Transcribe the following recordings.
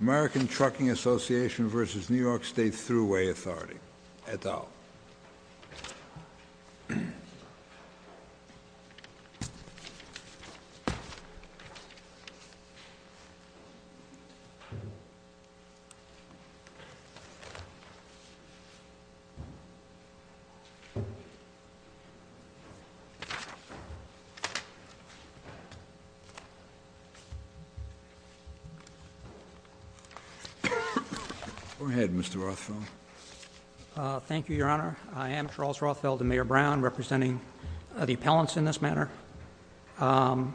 American Trucking Association versus New York State Thruway Authority, et al. Go ahead, Mr. Rothfeld. Thank you, Your Honor. I am Charles Rothfeld, the Mayor Brown, representing the appellants in this manner. Under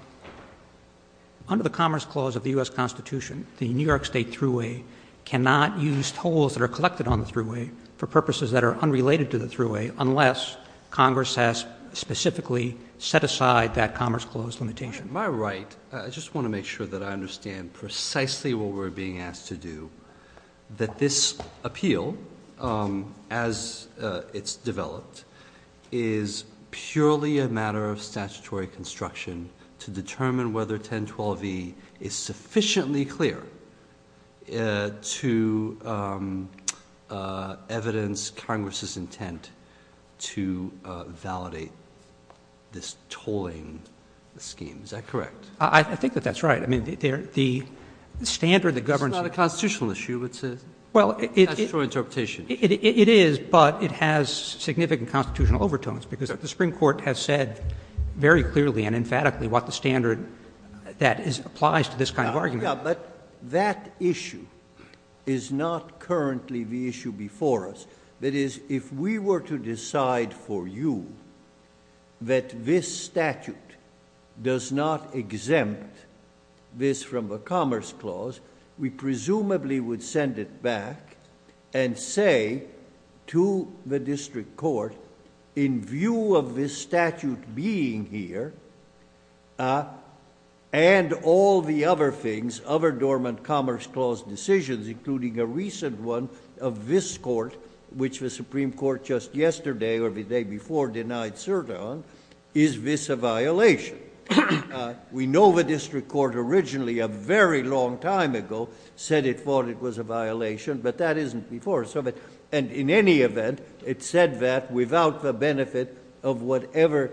the Commerce Clause of the U.S. Constitution, the New York State Thruway cannot use tolls that are collected on the Thruway for purposes that are unrelated to the Thruway unless Congress has specifically set aside that Commerce Clause limitation. To my right, I just want to make sure that I understand precisely what we're being asked to do, that this appeal, as it's developed, is purely a matter of statutory construction to determine whether 1012e is sufficiently clear to evidence Congress's intent to validate this tolling scheme. Is that correct? I think that that's right. I mean, the standard that governs— It's not a constitutional issue. It's a statutory interpretation. It is, but it has significant constitutional overtones because the Supreme Court has said very clearly and emphatically what the standard that applies to this kind of argument. But that issue is not currently the issue before us. That is, if we were to decide for you that this statute does not exempt this from the Commerce Clause, we presumably would send it back and say to the District Court, in view of this statute being here and all the other things, other dormant Commerce Clause decisions, including a recent one of this Court, which the Supreme Court just yesterday or the day before denied cert on, is this a violation? We know the District Court originally, a very long time ago, said it thought it was a violation, but that isn't before. And in any event, it said that without the benefit of whatever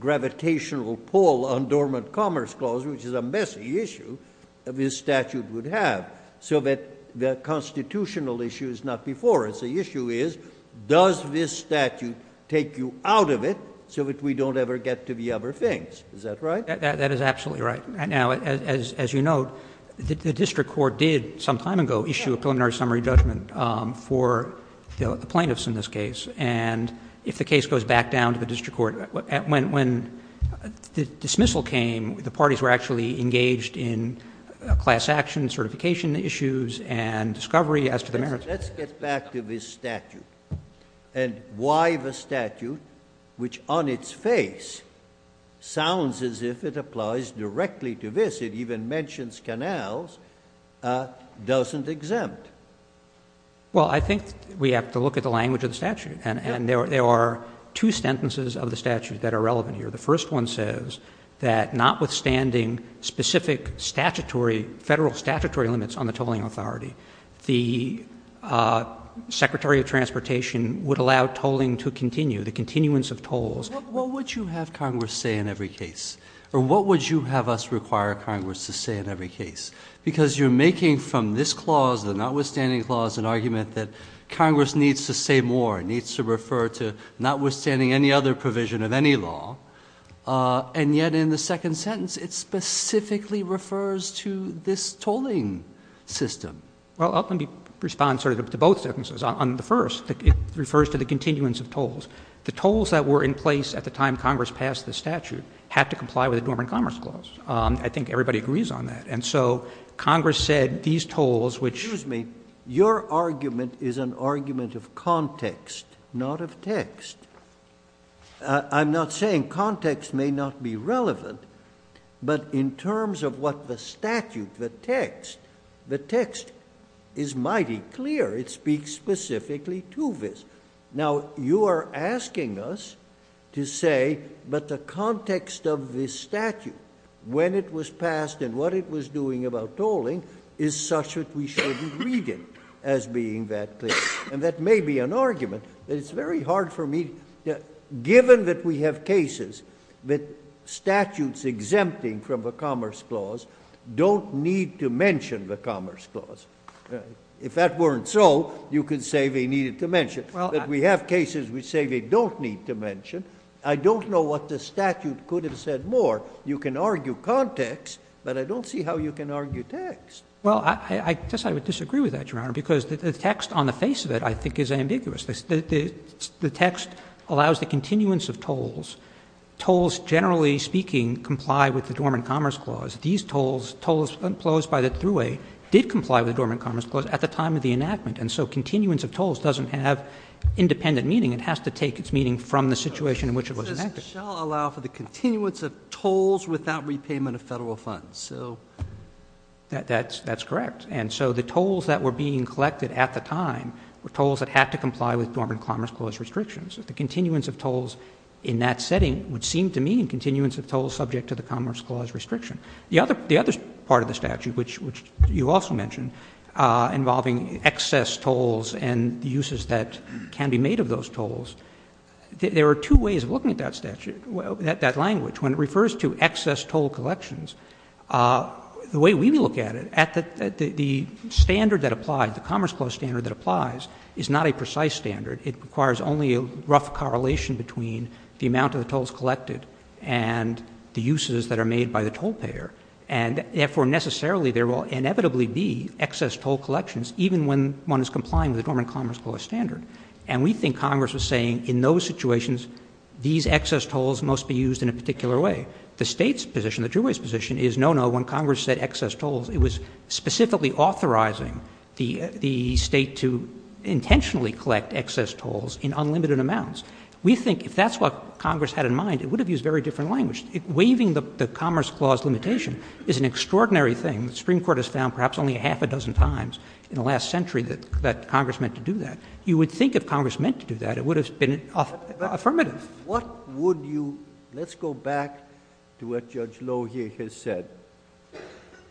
gravitational pull on dormant Commerce Clause, which is a messy issue, this statute would have. So that the constitutional issue is not before us. The issue is, does this statute take you out of it so that we don't ever get to the other things? Is that right? That is absolutely right. Now, as you note, the District Court did some time ago issue a preliminary summary judgment for the plaintiffs in this case. And if the case goes back down to the District Court, when the dismissal came, the parties were actually engaged in class action, certification issues, and discovery as to the merits. Let's get back to this statute and why the statute, which on its face sounds as if it applies directly to this, it even mentions canals, doesn't exempt. Well, I think we have to look at the language of the statute. And there are two sentences of the statute that are relevant here. The first one says that notwithstanding specific federal statutory limits on the tolling authority, the Secretary of Transportation would allow tolling to continue, the continuance of tolls. What would you have Congress say in every case? Or what would you have us require Congress to say in every case? Because you're making from this clause, the notwithstanding clause, an argument that Congress needs to say more. It needs to refer to notwithstanding any other provision of any law. And yet in the second sentence, it specifically refers to this tolling system. Well, let me respond sort of to both sentences. On the first, it refers to the continuance of tolls. The tolls that were in place at the time Congress passed the statute had to comply with the Norman Commerce Clause. I think everybody agrees on that. And so Congress said these tolls, which— Excuse me. Your argument is an argument of context, not of text. I'm not saying context may not be relevant. But in terms of what the statute, the text, the text is mighty clear. It speaks specifically to this. Now, you are asking us to say, but the context of this statute, when it was passed and what it was doing about tolling, is such that we shouldn't read it as being that clear. And that may be an argument. But it's very hard for me, given that we have cases that statutes exempting from the Commerce Clause don't need to mention the Commerce Clause. If that weren't so, you could say they needed to mention. But we have cases which say they don't need to mention. I don't know what the statute could have said more. You can argue context, but I don't see how you can argue text. Well, I guess I would disagree with that, Your Honor, because the text on the face of it, I think, is ambiguous. The text allows the continuance of tolls. Tolls, generally speaking, comply with the Norman Commerce Clause. These tolls, tolls imposed by the thruway, did comply with the Norman Commerce Clause at the time of the enactment. And so continuance of tolls doesn't have independent meaning. It has to take its meaning from the situation in which it was enacted. It says it shall allow for the continuance of tolls without repayment of federal funds. That's correct. And so the tolls that were being collected at the time were tolls that had to comply with Norman Commerce Clause restrictions. The continuance of tolls in that setting would seem to mean continuance of tolls subject to the Commerce Clause restriction. The other part of the statute, which you also mentioned, involving excess tolls and uses that can be made of those tolls, there are two ways of looking at that statute, that language. When it refers to excess toll collections, the way we look at it, the standard that applies, the Commerce Clause standard that applies is not a precise standard. It requires only a rough correlation between the amount of the tolls collected and the uses that are made by the toll payer. And, therefore, necessarily there will inevitably be excess toll collections, even when one is complying with the Norman Commerce Clause standard. And we think Congress was saying in those situations these excess tolls must be used in a particular way. The State's position, the thruway's position, is no, no, when Congress set excess tolls, it was specifically authorizing the State to intentionally collect excess tolls in unlimited amounts. We think if that's what Congress had in mind, it would have used very different language. Waiving the Commerce Clause limitation is an extraordinary thing. The Supreme Court has found perhaps only a half a dozen times in the last century that Congress meant to do that. You would think if Congress meant to do that, it would have been affirmative. What would you, let's go back to what Judge Lohier has said.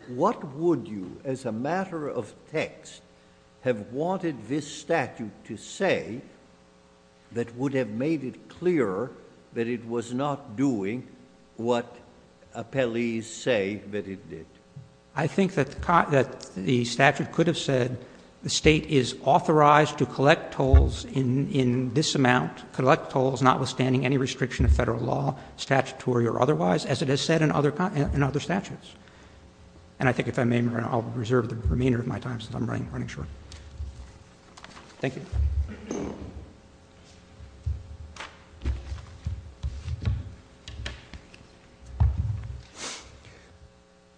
What would you, as a matter of text, have wanted this statute to say that would have made it clearer that it was not doing what appellees say that it did? I think that the statute could have said the State is authorized to collect tolls in this amount, collect tolls notwithstanding any restriction of federal law, statutory or otherwise, as it has said in other statutes. And I think if I may, I'll reserve the remainder of my time since I'm running short. Thank you.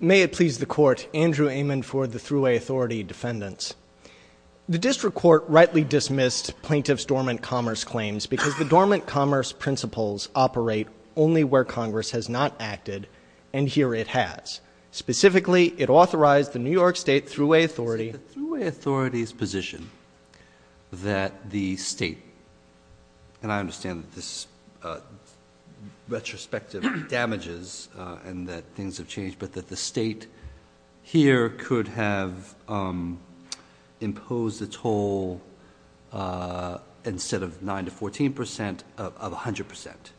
May it please the court. Andrew Amen for the Thruway Authority defendants. The district court rightly dismissed plaintiff's dormant commerce claims because the dormant commerce principles operate only where Congress has not acted, and here it has. Specifically, it authorized the New York State Thruway Authority. Is it the Thruway Authority's position that the State, and I understand that this retrospectively damages and that things have changed, but that the State here could have imposed a toll instead of 9 to 14 percent of 100 percent?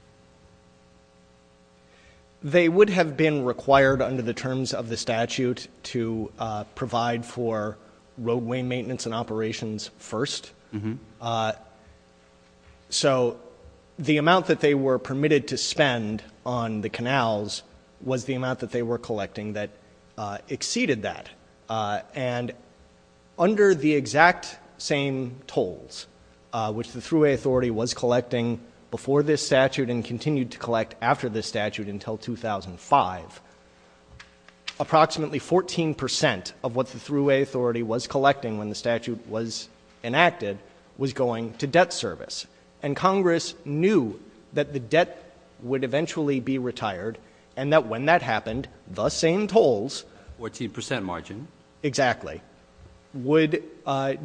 They would have been required under the terms of the statute to provide for roadway maintenance and operations first. So the amount that they were permitted to spend on the canals was the amount that they were collecting that exceeded that. And under the exact same tolls, which the Thruway Authority was collecting before this statute and continued to collect after this statute until 2005, approximately 14 percent of what the Thruway Authority was collecting when the statute was enacted was going to debt service. And Congress knew that the debt would eventually be retired and that when that happened, the same tolls. 14 percent margin. Exactly. Would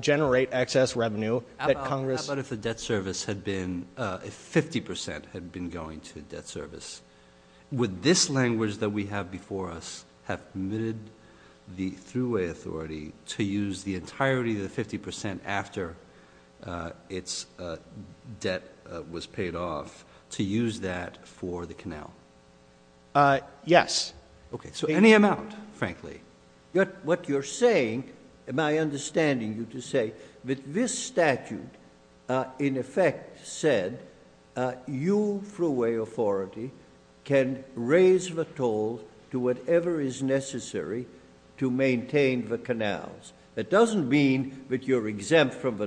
generate excess revenue. How about if the debt service had been, if 50 percent had been going to debt service? Would this language that we have before us have permitted the Thruway Authority to use the entirety of the 50 percent after its debt was paid off to use that for the canal? Yes. Okay. So any amount, frankly. What you're saying, my understanding you to say that this statute in effect said you, Thruway Authority, can raise the toll to whatever is necessary to maintain the canals. It doesn't mean that you're exempt from the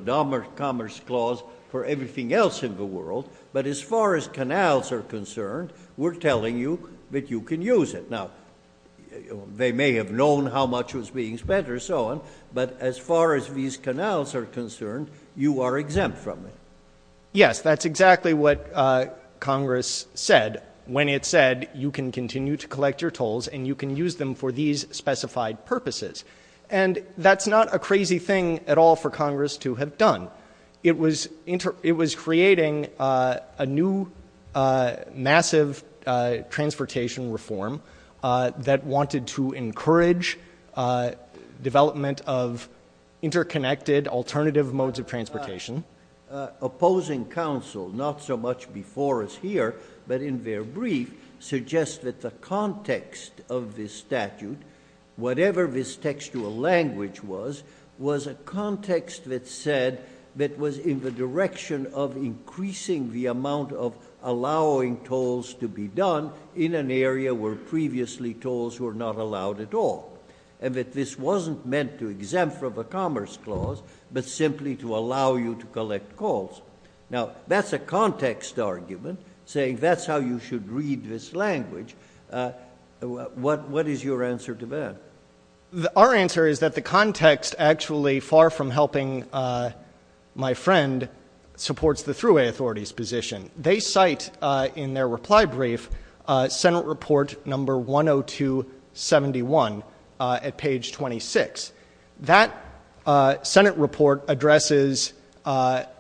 Commerce Clause for everything else in the world, but as far as canals are concerned, we're telling you that you can use it. Now, they may have known how much was being spent or so on, but as far as these canals are concerned, you are exempt from it. Yes, that's exactly what Congress said when it said you can continue to collect your tolls and you can use them for these specified purposes. And that's not a crazy thing at all for Congress to have done. It was creating a new massive transportation reform that wanted to encourage development of interconnected alternative modes of transportation. Opposing counsel, not so much before us here, but in their brief, suggests that the context of this statute, whatever this textual language was, was a context that said that was in the direction of increasing the amount of allowing tolls to be done in an area where previously tolls were not allowed at all. And that this wasn't meant to exempt from the Commerce Clause, but simply to allow you to collect calls. Now, that's a context argument, saying that's how you should read this language. What is your answer to that? Our answer is that the context actually, far from helping my friend, supports the Thruway Authority's position. They cite in their reply brief Senate Report No. 10271 at page 26. That Senate report addresses not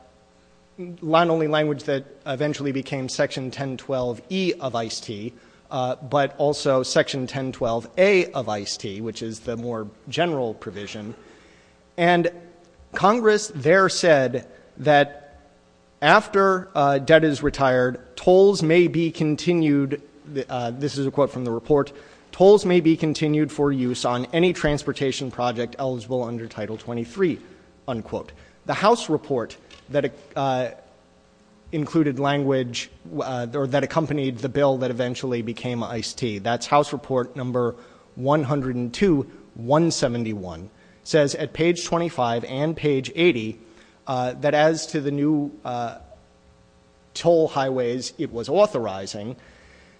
only language that eventually became Section 1012E of I.C.E.T., but also Section 1012A of I.C.E.T., which is the more general provision. And Congress there said that after debt is retired, tolls may be continued, this is a quote from the report, tolls may be continued for use on any transportation project eligible under Title 23, unquote. The House report that accompanied the bill that eventually became I.C.E.T., that's House Report No. 102-171, says at page 25 and page 80 that as to the new toll highways it was authorizing,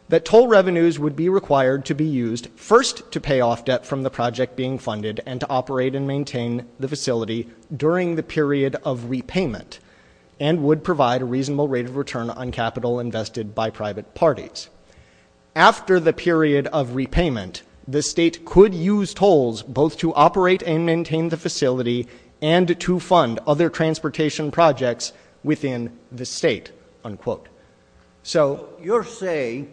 that toll revenues would be required to be used first to pay off debt from the project being funded and to operate and maintain the facility during the period of repayment, and would provide a reasonable rate of return on capital invested by private parties. After the period of repayment, the state could use tolls both to operate and maintain the facility and to fund other transportation projects within the state, unquote. So you're saying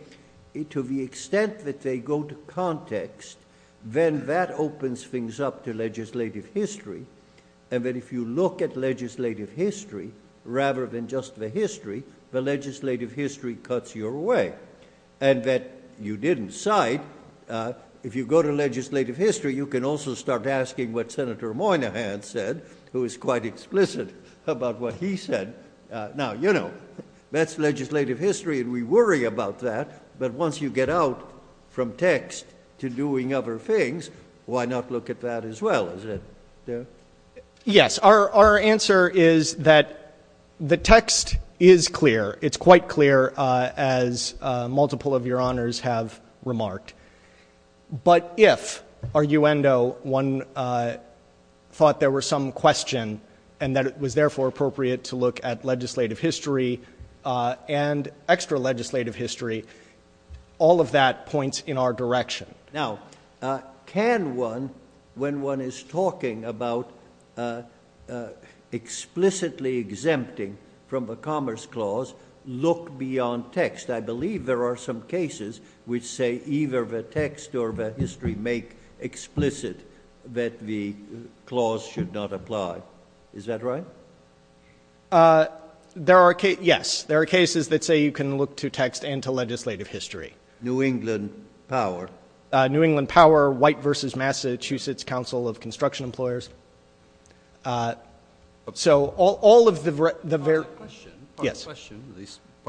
to the extent that they go to context, then that opens things up to legislative history, and that if you look at legislative history rather than just the history, the legislative history cuts your way. And that you didn't cite, if you go to legislative history, you can also start asking what Senator Moynihan said, who is quite explicit about what he said. Now, you know, that's legislative history, and we worry about that, but once you get out from text to doing other things, why not look at that as well? Yes, our answer is that the text is clear. It's quite clear, as multiple of your honors have remarked. But if, arguendo, one thought there were some question, and that it was therefore appropriate to look at legislative history and extra legislative history, all of that points in our direction. Now, can one, when one is talking about explicitly exempting from the Commerce Clause, look beyond text? I believe there are some cases which say either the text or the history make explicit that the clause should not apply. Is that right? Yes, there are cases that say you can look to text and to legislative history. New England Power. New England Power, White v. Massachusetts Council of Construction Employers. So all of the very- Part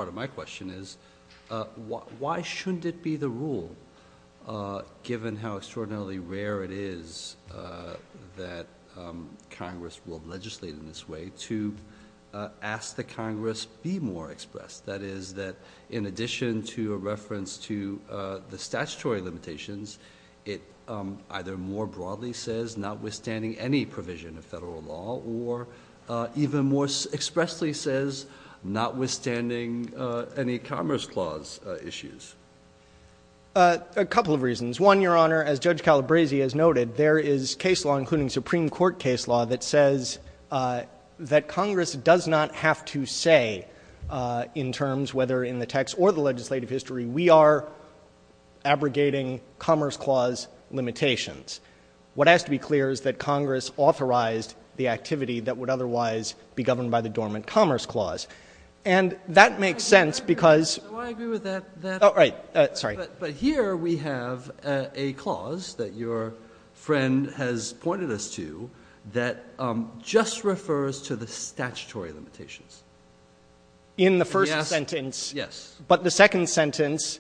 of my question is why shouldn't it be the rule, given how extraordinarily rare it is that Congress will legislate in this way, to ask that Congress be more expressed? That is, that in addition to a reference to the statutory limitations, it either more broadly says notwithstanding any provision of Federal law, or even more expressly says notwithstanding any Commerce Clause issues. A couple of reasons. One, Your Honor, as Judge Calabresi has noted, there is case law, including Supreme Court case law, that says that Congress does not have to say in terms, whether in the text or the legislative history, we are abrogating Commerce Clause limitations. What has to be clear is that Congress authorized the activity that would otherwise be governed by the dormant Commerce Clause. And that makes sense because- Do I agree with that? Oh, right. Sorry. But here we have a clause that your friend has pointed us to that just refers to the statutory limitations. In the first sentence- Yes. But the second sentence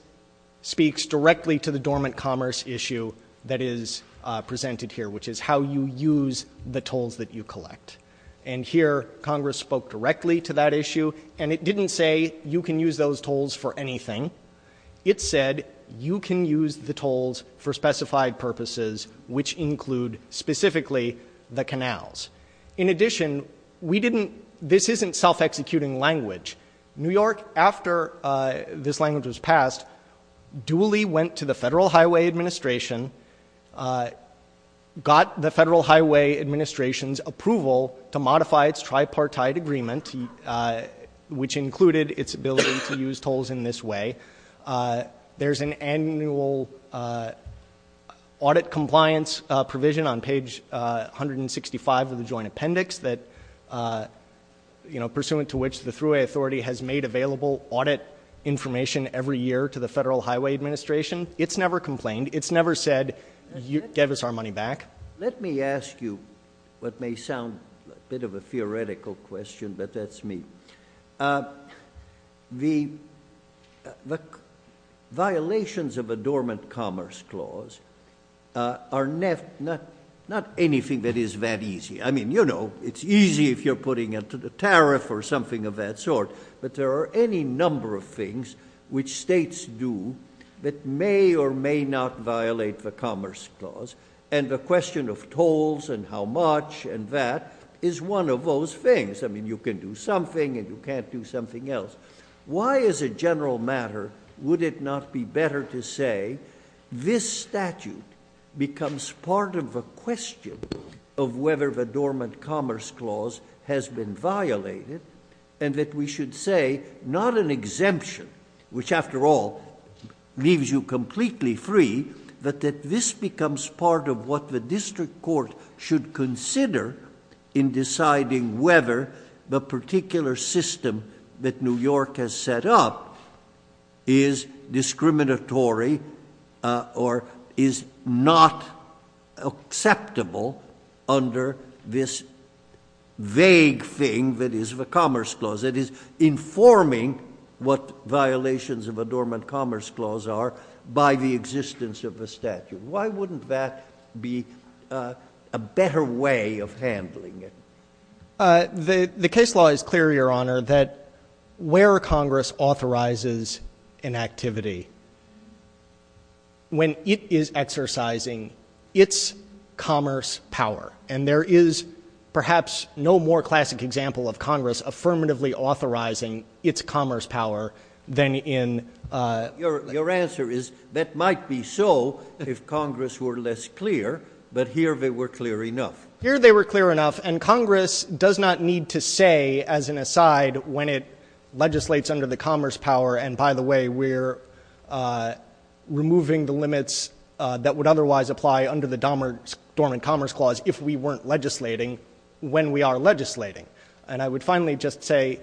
speaks directly to the dormant Commerce issue that is presented here, which is how you use the tolls that you collect. And here Congress spoke directly to that issue, and it didn't say you can use those tolls for anything. It said you can use the tolls for specified purposes, which include specifically the canals. In addition, we didn't-this isn't self-executing language. New York, after this language was passed, duly went to the Federal Highway Administration, got the Federal Highway Administration's approval to modify its tripartite agreement, which included its ability to use tolls in this way. There's an annual audit compliance provision on page 165 of the Joint Appendix pursuant to which the Thruway Authority has made available audit information every year to the Federal Highway Administration. It's never complained. It's never said, give us our money back. Let me ask you what may sound a bit of a theoretical question, but that's me. The violations of a dormant Commerce clause are not anything that is that easy. I mean, you know, it's easy if you're putting it to the tariff or something of that sort, but there are any number of things which states do that may or may not violate the Commerce clause, and the question of tolls and how much and that is one of those things. I mean, you can do something and you can't do something else. Why, as a general matter, would it not be better to say this statute becomes part of a question of whether the dormant Commerce clause has been violated and that we should say not an exemption, which, after all, leaves you completely free, but that this becomes part of what the district court should consider in deciding whether the particular system that New York has set up is discriminatory or is not acceptable under this vague thing that is the Commerce clause. It is informing what violations of a dormant Commerce clause are by the existence of the statute. Why wouldn't that be a better way of handling it? The case law is clear, Your Honor, that where Congress authorizes an activity when it is exercising its Commerce power, and there is perhaps no more classic example of Congress affirmatively authorizing its Commerce power than in — Your answer is that might be so if Congress were less clear, but here they were clear enough. Here they were clear enough, and Congress does not need to say as an aside when it legislates under the Commerce power, and by the way, we're removing the limits that would otherwise apply under the dormant Commerce clause if we weren't legislating when we are legislating. And I would finally just say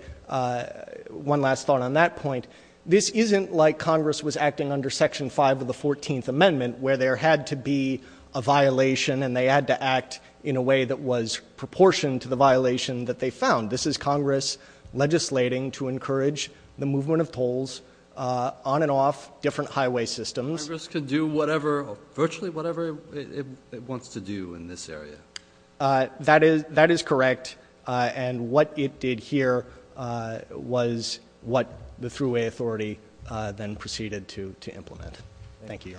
one last thought on that point. This isn't like Congress was acting under Section 5 of the 14th Amendment, where there had to be a violation and they had to act in a way that was proportioned to the violation that they found. This is Congress legislating to encourage the movement of tolls on and off different highway systems. Congress could do whatever, virtually whatever it wants to do in this area. That is correct, and what it did here was what the thruway authority then proceeded to implement. Thank you.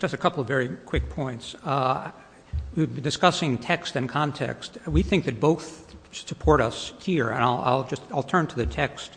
Just a couple of very quick points. Discussing text and context, we think that both support us here, and I'll turn to the text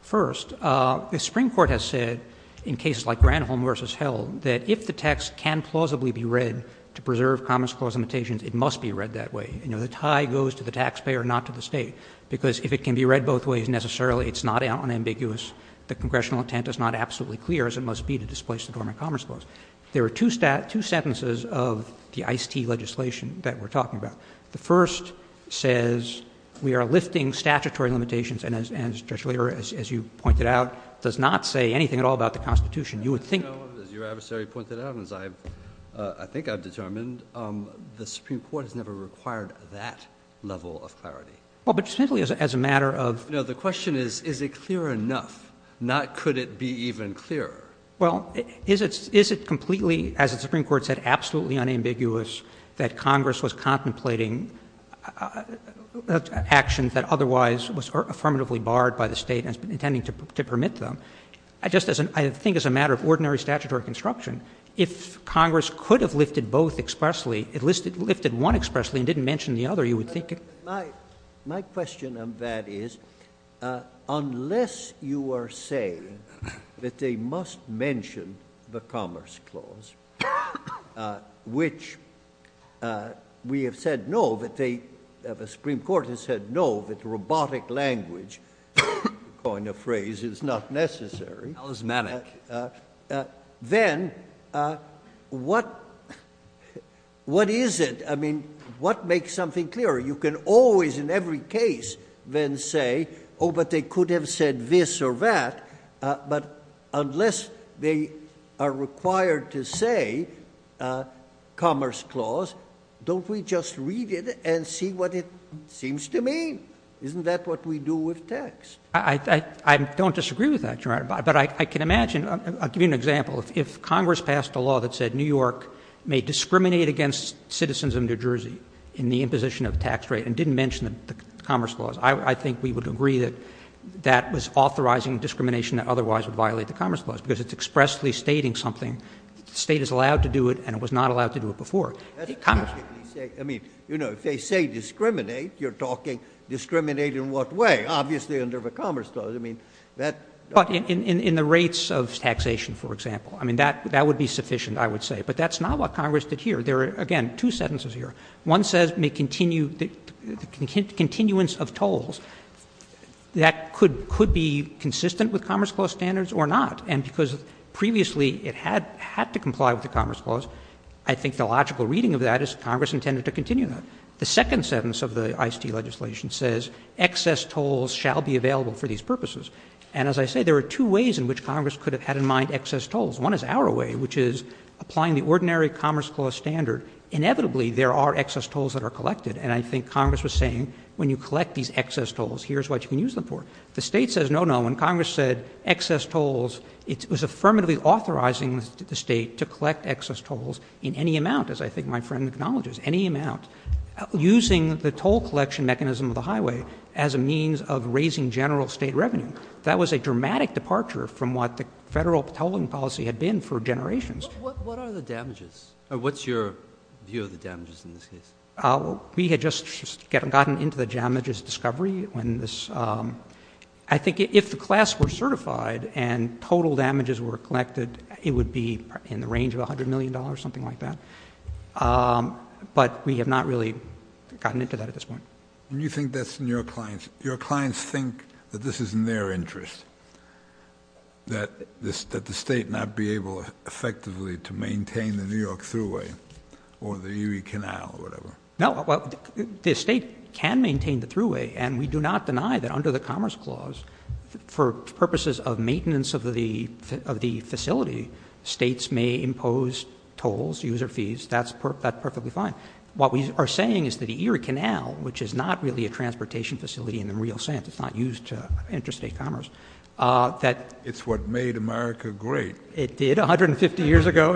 first. The Supreme Court has said in cases like Granholm v. Hill that if the text can plausibly be read to preserve Commerce clause limitations, it must be read that way. The tie goes to the taxpayer, not to the State, because if it can be read both ways, necessarily it's not unambiguous. The Congressional intent is not absolutely clear, as it must be to displace the dormant Commerce clause. There are two sentences of the ICE-T legislation that we're talking about. The first says we are lifting statutory limitations and, as you pointed out, does not say anything at all about the Constitution. As your adversary pointed out, as I think I've determined, the Supreme Court has never required that level of clarity. Well, but simply as a matter of — No, the question is, is it clear enough? Not could it be even clearer. Well, is it completely, as the Supreme Court said, absolutely unambiguous that Congress was contemplating actions that otherwise were affirmatively barred by the State and was intending to permit them? I just — I think as a matter of ordinary statutory construction, if Congress could have lifted both expressly, if it lifted one expressly and didn't mention the other, you would think it — My question on that is, unless you are saying that they must mention the Commerce clause, which we have said no, that they — the Supreme Court has said no, that the robotic language kind of phrase is not necessary. That was manic. Then what is it? I mean, what makes something clearer? You can always, in every case, then say, oh, but they could have said this or that. But unless they are required to say Commerce clause, don't we just read it and see what it seems to mean? Isn't that what we do with tax? I don't disagree with that, Your Honor. But I can imagine — I'll give you an example. If Congress passed a law that said New York may discriminate against citizens of New Jersey in the imposition of tax rate and didn't mention the Commerce clause, I think we would agree that that was authorizing discrimination that otherwise would violate the Commerce clause because it's expressly stating something. The State is allowed to do it, and it was not allowed to do it before. Congress — I mean, you know, if they say discriminate, you're talking discriminate in what way? Obviously under the Commerce clause. I mean, that — But in the rates of taxation, for example. I mean, that would be sufficient, I would say. But that's not what Congress did here. There are, again, two sentences here. One says may continue — the continuance of tolls. That could be consistent with Commerce clause standards or not. And because previously it had to comply with the Commerce clause, I think the logical reading of that is Congress intended to continue that. The second sentence of the ICE-T legislation says excess tolls shall be available for these purposes. And as I say, there are two ways in which Congress could have had in mind excess tolls. One is our way, which is applying the ordinary Commerce clause standard. Inevitably, there are excess tolls that are collected. And I think Congress was saying when you collect these excess tolls, here's what you can use them for. The state says no, no. When Congress said excess tolls, it was affirmatively authorizing the state to collect excess tolls in any amount, as I think my friend acknowledges, any amount, using the toll collection mechanism of the highway as a means of raising general state revenue. That was a dramatic departure from what the federal tolling policy had been for generations. What are the damages? What's your view of the damages in this case? We had just gotten into the damages discovery. I think if the class were certified and total damages were collected, it would be in the range of $100 million, something like that. But we have not really gotten into that at this point. And you think that's in your clients. Your clients think that this is in their interest, that the state not be able effectively to maintain the New York thruway or the Erie Canal or whatever? No. The state can maintain the thruway. And we do not deny that under the Commerce Clause, for purposes of maintenance of the facility, states may impose tolls, user fees. That's perfectly fine. What we are saying is that the Erie Canal, which is not really a transportation facility in the real sense, it's not used to interstate commerce. It's what made America great. It did 150 years ago.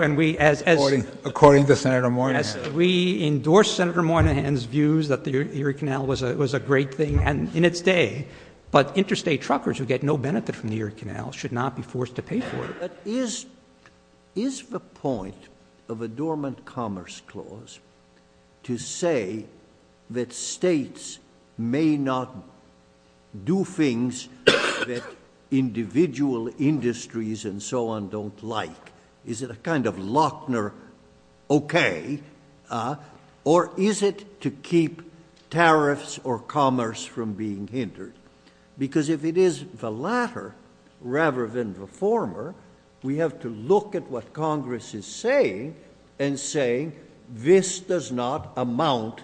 According to Senator Moynihan. We endorse Senator Moynihan's views that the Erie Canal was a great thing in its day. But interstate truckers who get no benefit from the Erie Canal should not be forced to pay for it. But is the point of a dormant Commerce Clause to say that states may not do things that individual industries and so on don't like? Is it a kind of Lochner okay? Or is it to keep tariffs or commerce from being hindered? Because if it is the latter, rather than the former, we have to look at what Congress is saying, and saying this does not amount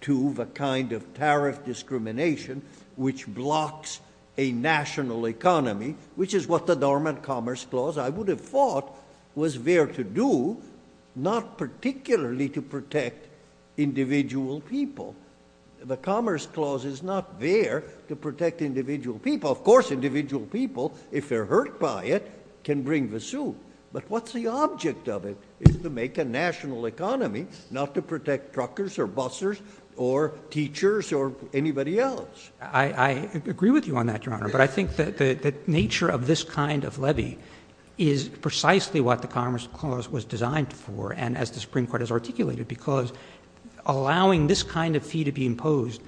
to the kind of tariff discrimination which blocks a national economy, which is what the dormant Commerce Clause, I would have thought, was there to do, not particularly to protect individual people. The Commerce Clause is not there to protect individual people. Of course, individual people, if they're hurt by it, can bring the suit. But what's the object of it? It's to make a national economy, not to protect truckers or bussers or teachers or anybody else. I agree with you on that, Your Honor. But I think that the nature of this kind of levy is precisely what the Commerce Clause was designed for, and as the Supreme Court has articulated, because allowing this kind of fee to be imposed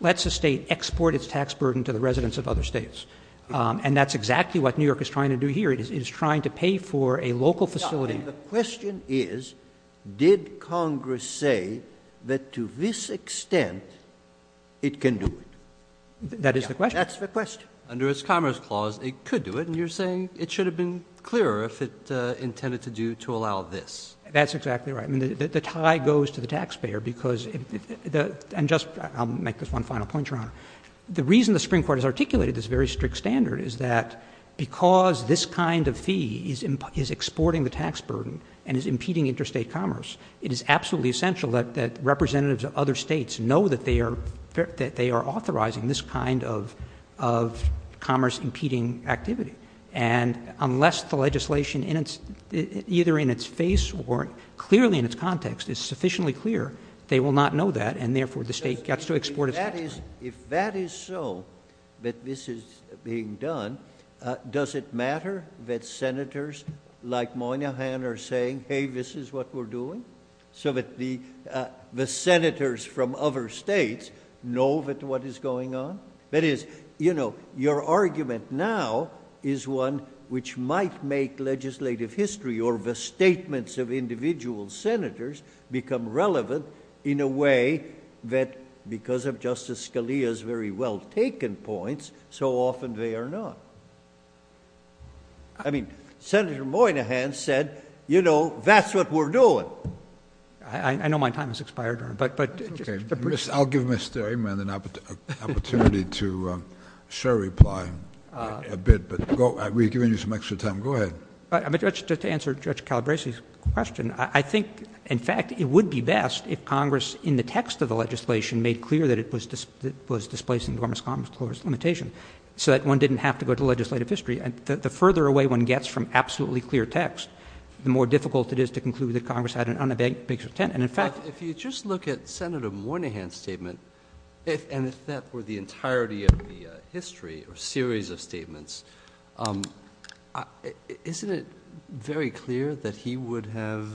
lets a state export its tax burden to the residents of other states. And that's exactly what New York is trying to do here. It is trying to pay for a local facility. The question is, did Congress say that to this extent it can do it? That is the question. That's the question. Under its Commerce Clause, it could do it, and you're saying it should have been clearer if it intended to allow this. That's exactly right. I mean, the tie goes to the taxpayer because the — and just — I'll make this one final point, Your Honor. The reason the Supreme Court has articulated this very strict standard is that because this kind of fee is exporting the tax burden and is impeding interstate commerce, it is absolutely essential that representatives of other states know that they are authorizing this kind of commerce-impeding activity. And unless the legislation, either in its face or clearly in its context, is sufficiently clear, they will not know that, and therefore the state gets to export its tax burden. If that is so, that this is being done, does it matter that senators like Moynihan are saying, hey, this is what we're doing, so that the senators from other states know that what is going on? That is, you know, your argument now is one which might make legislative history or the statements of individual senators become relevant in a way that, because of Justice Scalia's very well-taken points, so often they are not. I mean, Senator Moynihan said, you know, that's what we're doing. I know my time has expired, Your Honor, but — Okay. I'll give Mr. Amen an opportunity to share a reply a bit, but we've given you some extra time. Go ahead. To answer Judge Calabresi's question, I think, in fact, it would be best if Congress in the text of the legislation made clear that it was displacing the Dormant Commerce Clause limitation so that one didn't have to go to legislative history. The further away one gets from absolutely clear text, the more difficult it is to conclude that Congress had an unabashed intent. And, in fact — Well, if you just look at Senator Moynihan's statement, and if that were the entirety of the history or series of statements, isn't it very clear that he would have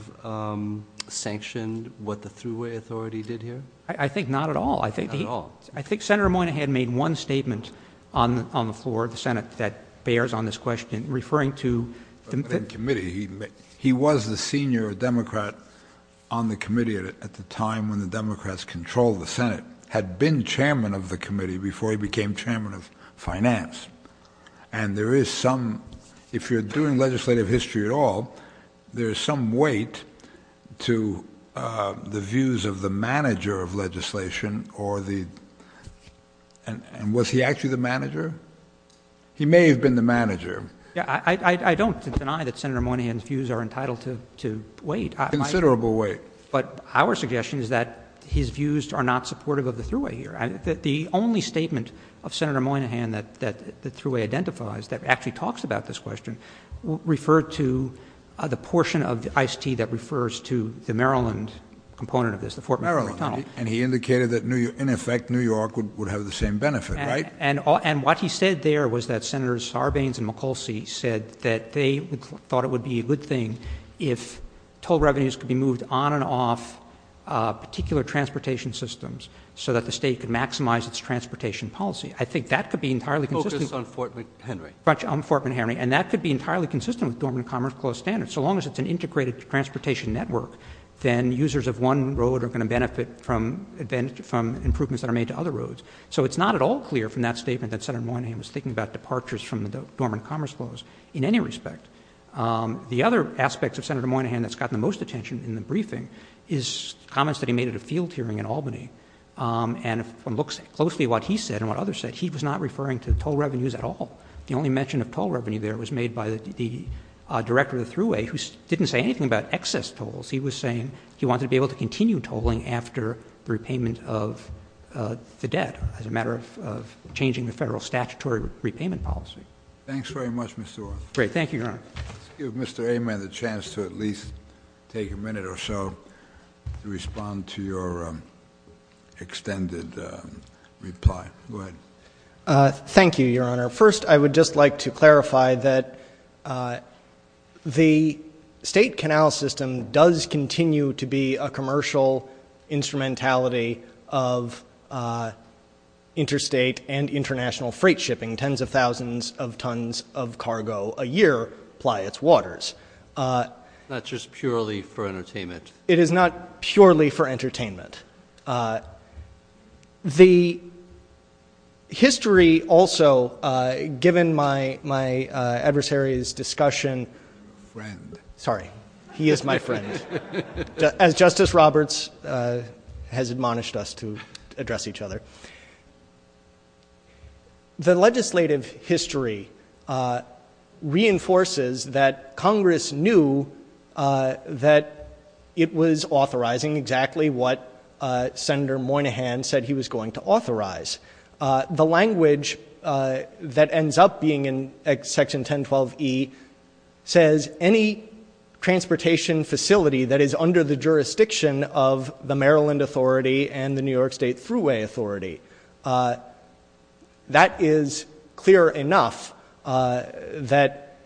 sanctioned what the Thruway authority did here? I think not at all. Not at all. I think Senator Moynihan made one statement on the floor of the Senate that bears on this question, referring to — He was the senior Democrat on the committee at the time when the Democrats controlled the Senate, had been chairman of the committee before he became chairman of finance. There's some weight to the views of the manager of legislation or the — And was he actually the manager? He may have been the manager. I don't deny that Senator Moynihan's views are entitled to weight. Considerable weight. But our suggestion is that his views are not supportive of the Thruway here. The only statement of Senator Moynihan that the Thruway identifies that actually talks about this question referred to the portion of the ICT that refers to the Maryland component of this, the Fort McHenry Tunnel. And he indicated that, in effect, New York would have the same benefit, right? And what he said there was that Senators Sarbanes and McColsey said that they thought it would be a good thing if toll revenues could be moved on and off particular transportation systems so that the state could maximize its transportation policy. I think that could be entirely consistent — Focus on Fort McHenry. Fort McHenry. And that could be entirely consistent with Dormant Commerce Clause standards. So long as it's an integrated transportation network, then users of one road are going to benefit from improvements that are made to other roads. So it's not at all clear from that statement that Senator Moynihan was thinking about departures from the Dormant Commerce Clause in any respect. The other aspect of Senator Moynihan that's gotten the most attention in the briefing is comments that he made at a field hearing in Albany. And if one looks closely at what he said and what others said, he was not referring to toll revenues at all. The only mention of toll revenue there was made by the Director of the Thruway, who didn't say anything about excess tolls. He was saying he wanted to be able to continue tolling after the repayment of the debt as a matter of changing the federal statutory repayment policy. Thanks very much, Mr. Ornstein. Great. Thank you, Your Honor. Let's give Mr. Amen the chance to at least take a minute or so to respond to your extended reply. Go ahead. Thank you, Your Honor. First, I would just like to clarify that the state canal system does continue to be a commercial instrumentality of interstate and international freight shipping. Tens of thousands of tons of cargo a year ply its waters. That's just purely for entertainment. It is not purely for entertainment. The history also, given my adversary's discussion. Friend. Sorry. He is my friend. As Justice Roberts has admonished us to address each other. The legislative history reinforces that Congress knew that it was authorizing exactly what Senator Moynihan said he was going to authorize. The language that ends up being in Section 1012E says any transportation facility that is under the jurisdiction of the Maryland Authority and the New York State Thruway Authority. That is clear enough that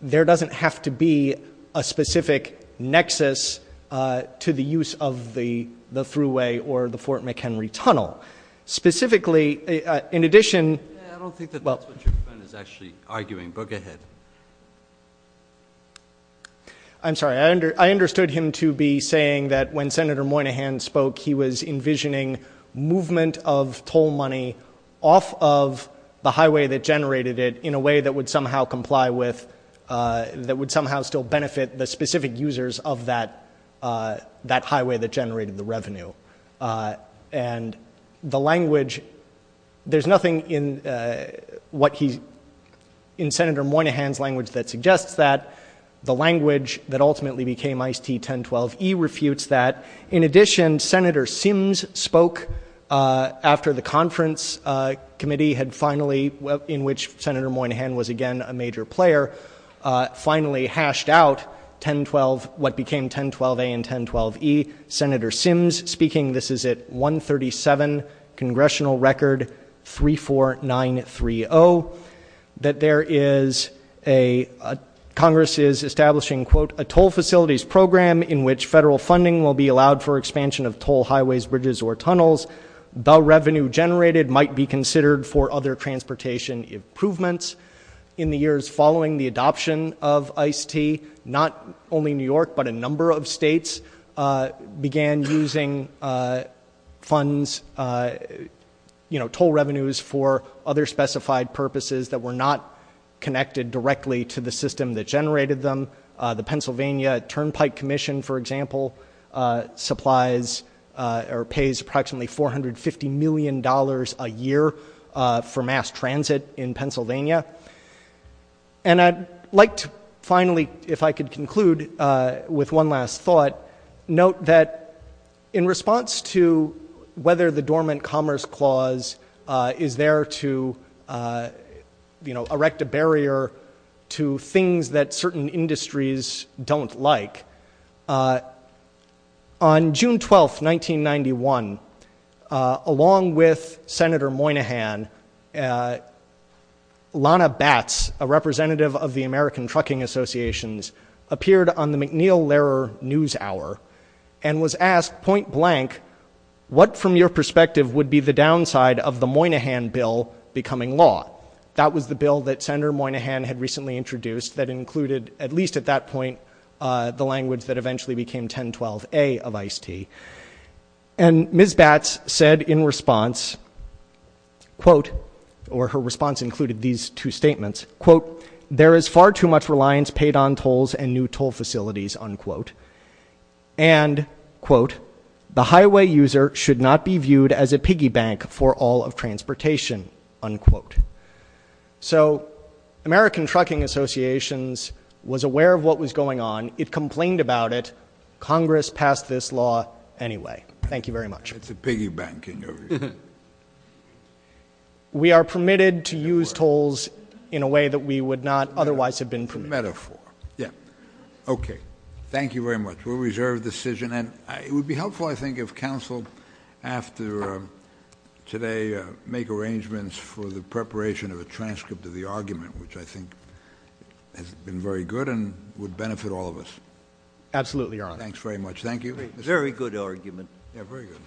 there doesn't have to be a specific nexus to the use of the thruway or the Fort McHenry Tunnel. Specifically, in addition. I don't think that's what your friend is actually arguing, but go ahead. I'm sorry. I understood him to be saying that when Senator Moynihan spoke, he was envisioning movement of toll money off of the highway that generated it in a way that would somehow comply with, that would somehow still benefit the specific users of that highway that generated the revenue. And the language, there's nothing in Senator Moynihan's language that suggests that. The language that ultimately became ICT 1012E refutes that. In addition, Senator Sims spoke after the conference committee had finally, in which Senator Moynihan was again a major player, finally hashed out what became 1012A and 1012E. Senator Sims speaking, this is at 137, Congressional Record 34930, that there is a, Congress is establishing, quote, a toll facilities program in which federal funding will be allowed for expansion of toll highways, bridges, or tunnels. The revenue generated might be considered for other transportation improvements. In the years following the adoption of ICT, not only New York, but a number of states began using funds, you know, toll revenues for other specified purposes that were not connected directly to the system that generated them. The Pennsylvania Turnpike Commission, for example, supplies or pays approximately $450 million a year for mass transit in Pennsylvania. And I'd like to finally, if I could conclude with one last thought, note that in response to whether the Dormant Commerce Clause is there to, you know, erect a barrier to things that certain industries don't like, on June 12th, 1991, along with Senator Moynihan, Lana Batts, a representative of the American Trucking Associations, appeared on the McNeil-Lehrer News Hour and was asked point blank, what from your perspective would be the downside of the Moynihan bill becoming law? That was the bill that Senator Moynihan had recently introduced that included, at least at that point, the language that eventually became 1012A of ICT. And Ms. Batts said in response, quote, or her response included these two statements, quote, there is far too much reliance paid on tolls and new toll facilities, unquote. And, quote, the highway user should not be viewed as a piggy bank for all of transportation, unquote. So American Trucking Associations was aware of what was going on. It complained about it. Congress passed this law anyway. Thank you very much. It's a piggy banking. We are permitted to use tolls in a way that we would not otherwise have been permitted. Metaphor. Yeah. Okay. Thank you very much. We'll reserve the decision. And it would be helpful, I think, if counsel, after today, make arrangements for the preparation of a transcript of the argument, which I think has been very good and would benefit all of us. Absolutely, Your Honor. Thanks very much. Thank you. Very good argument. Yeah, very good.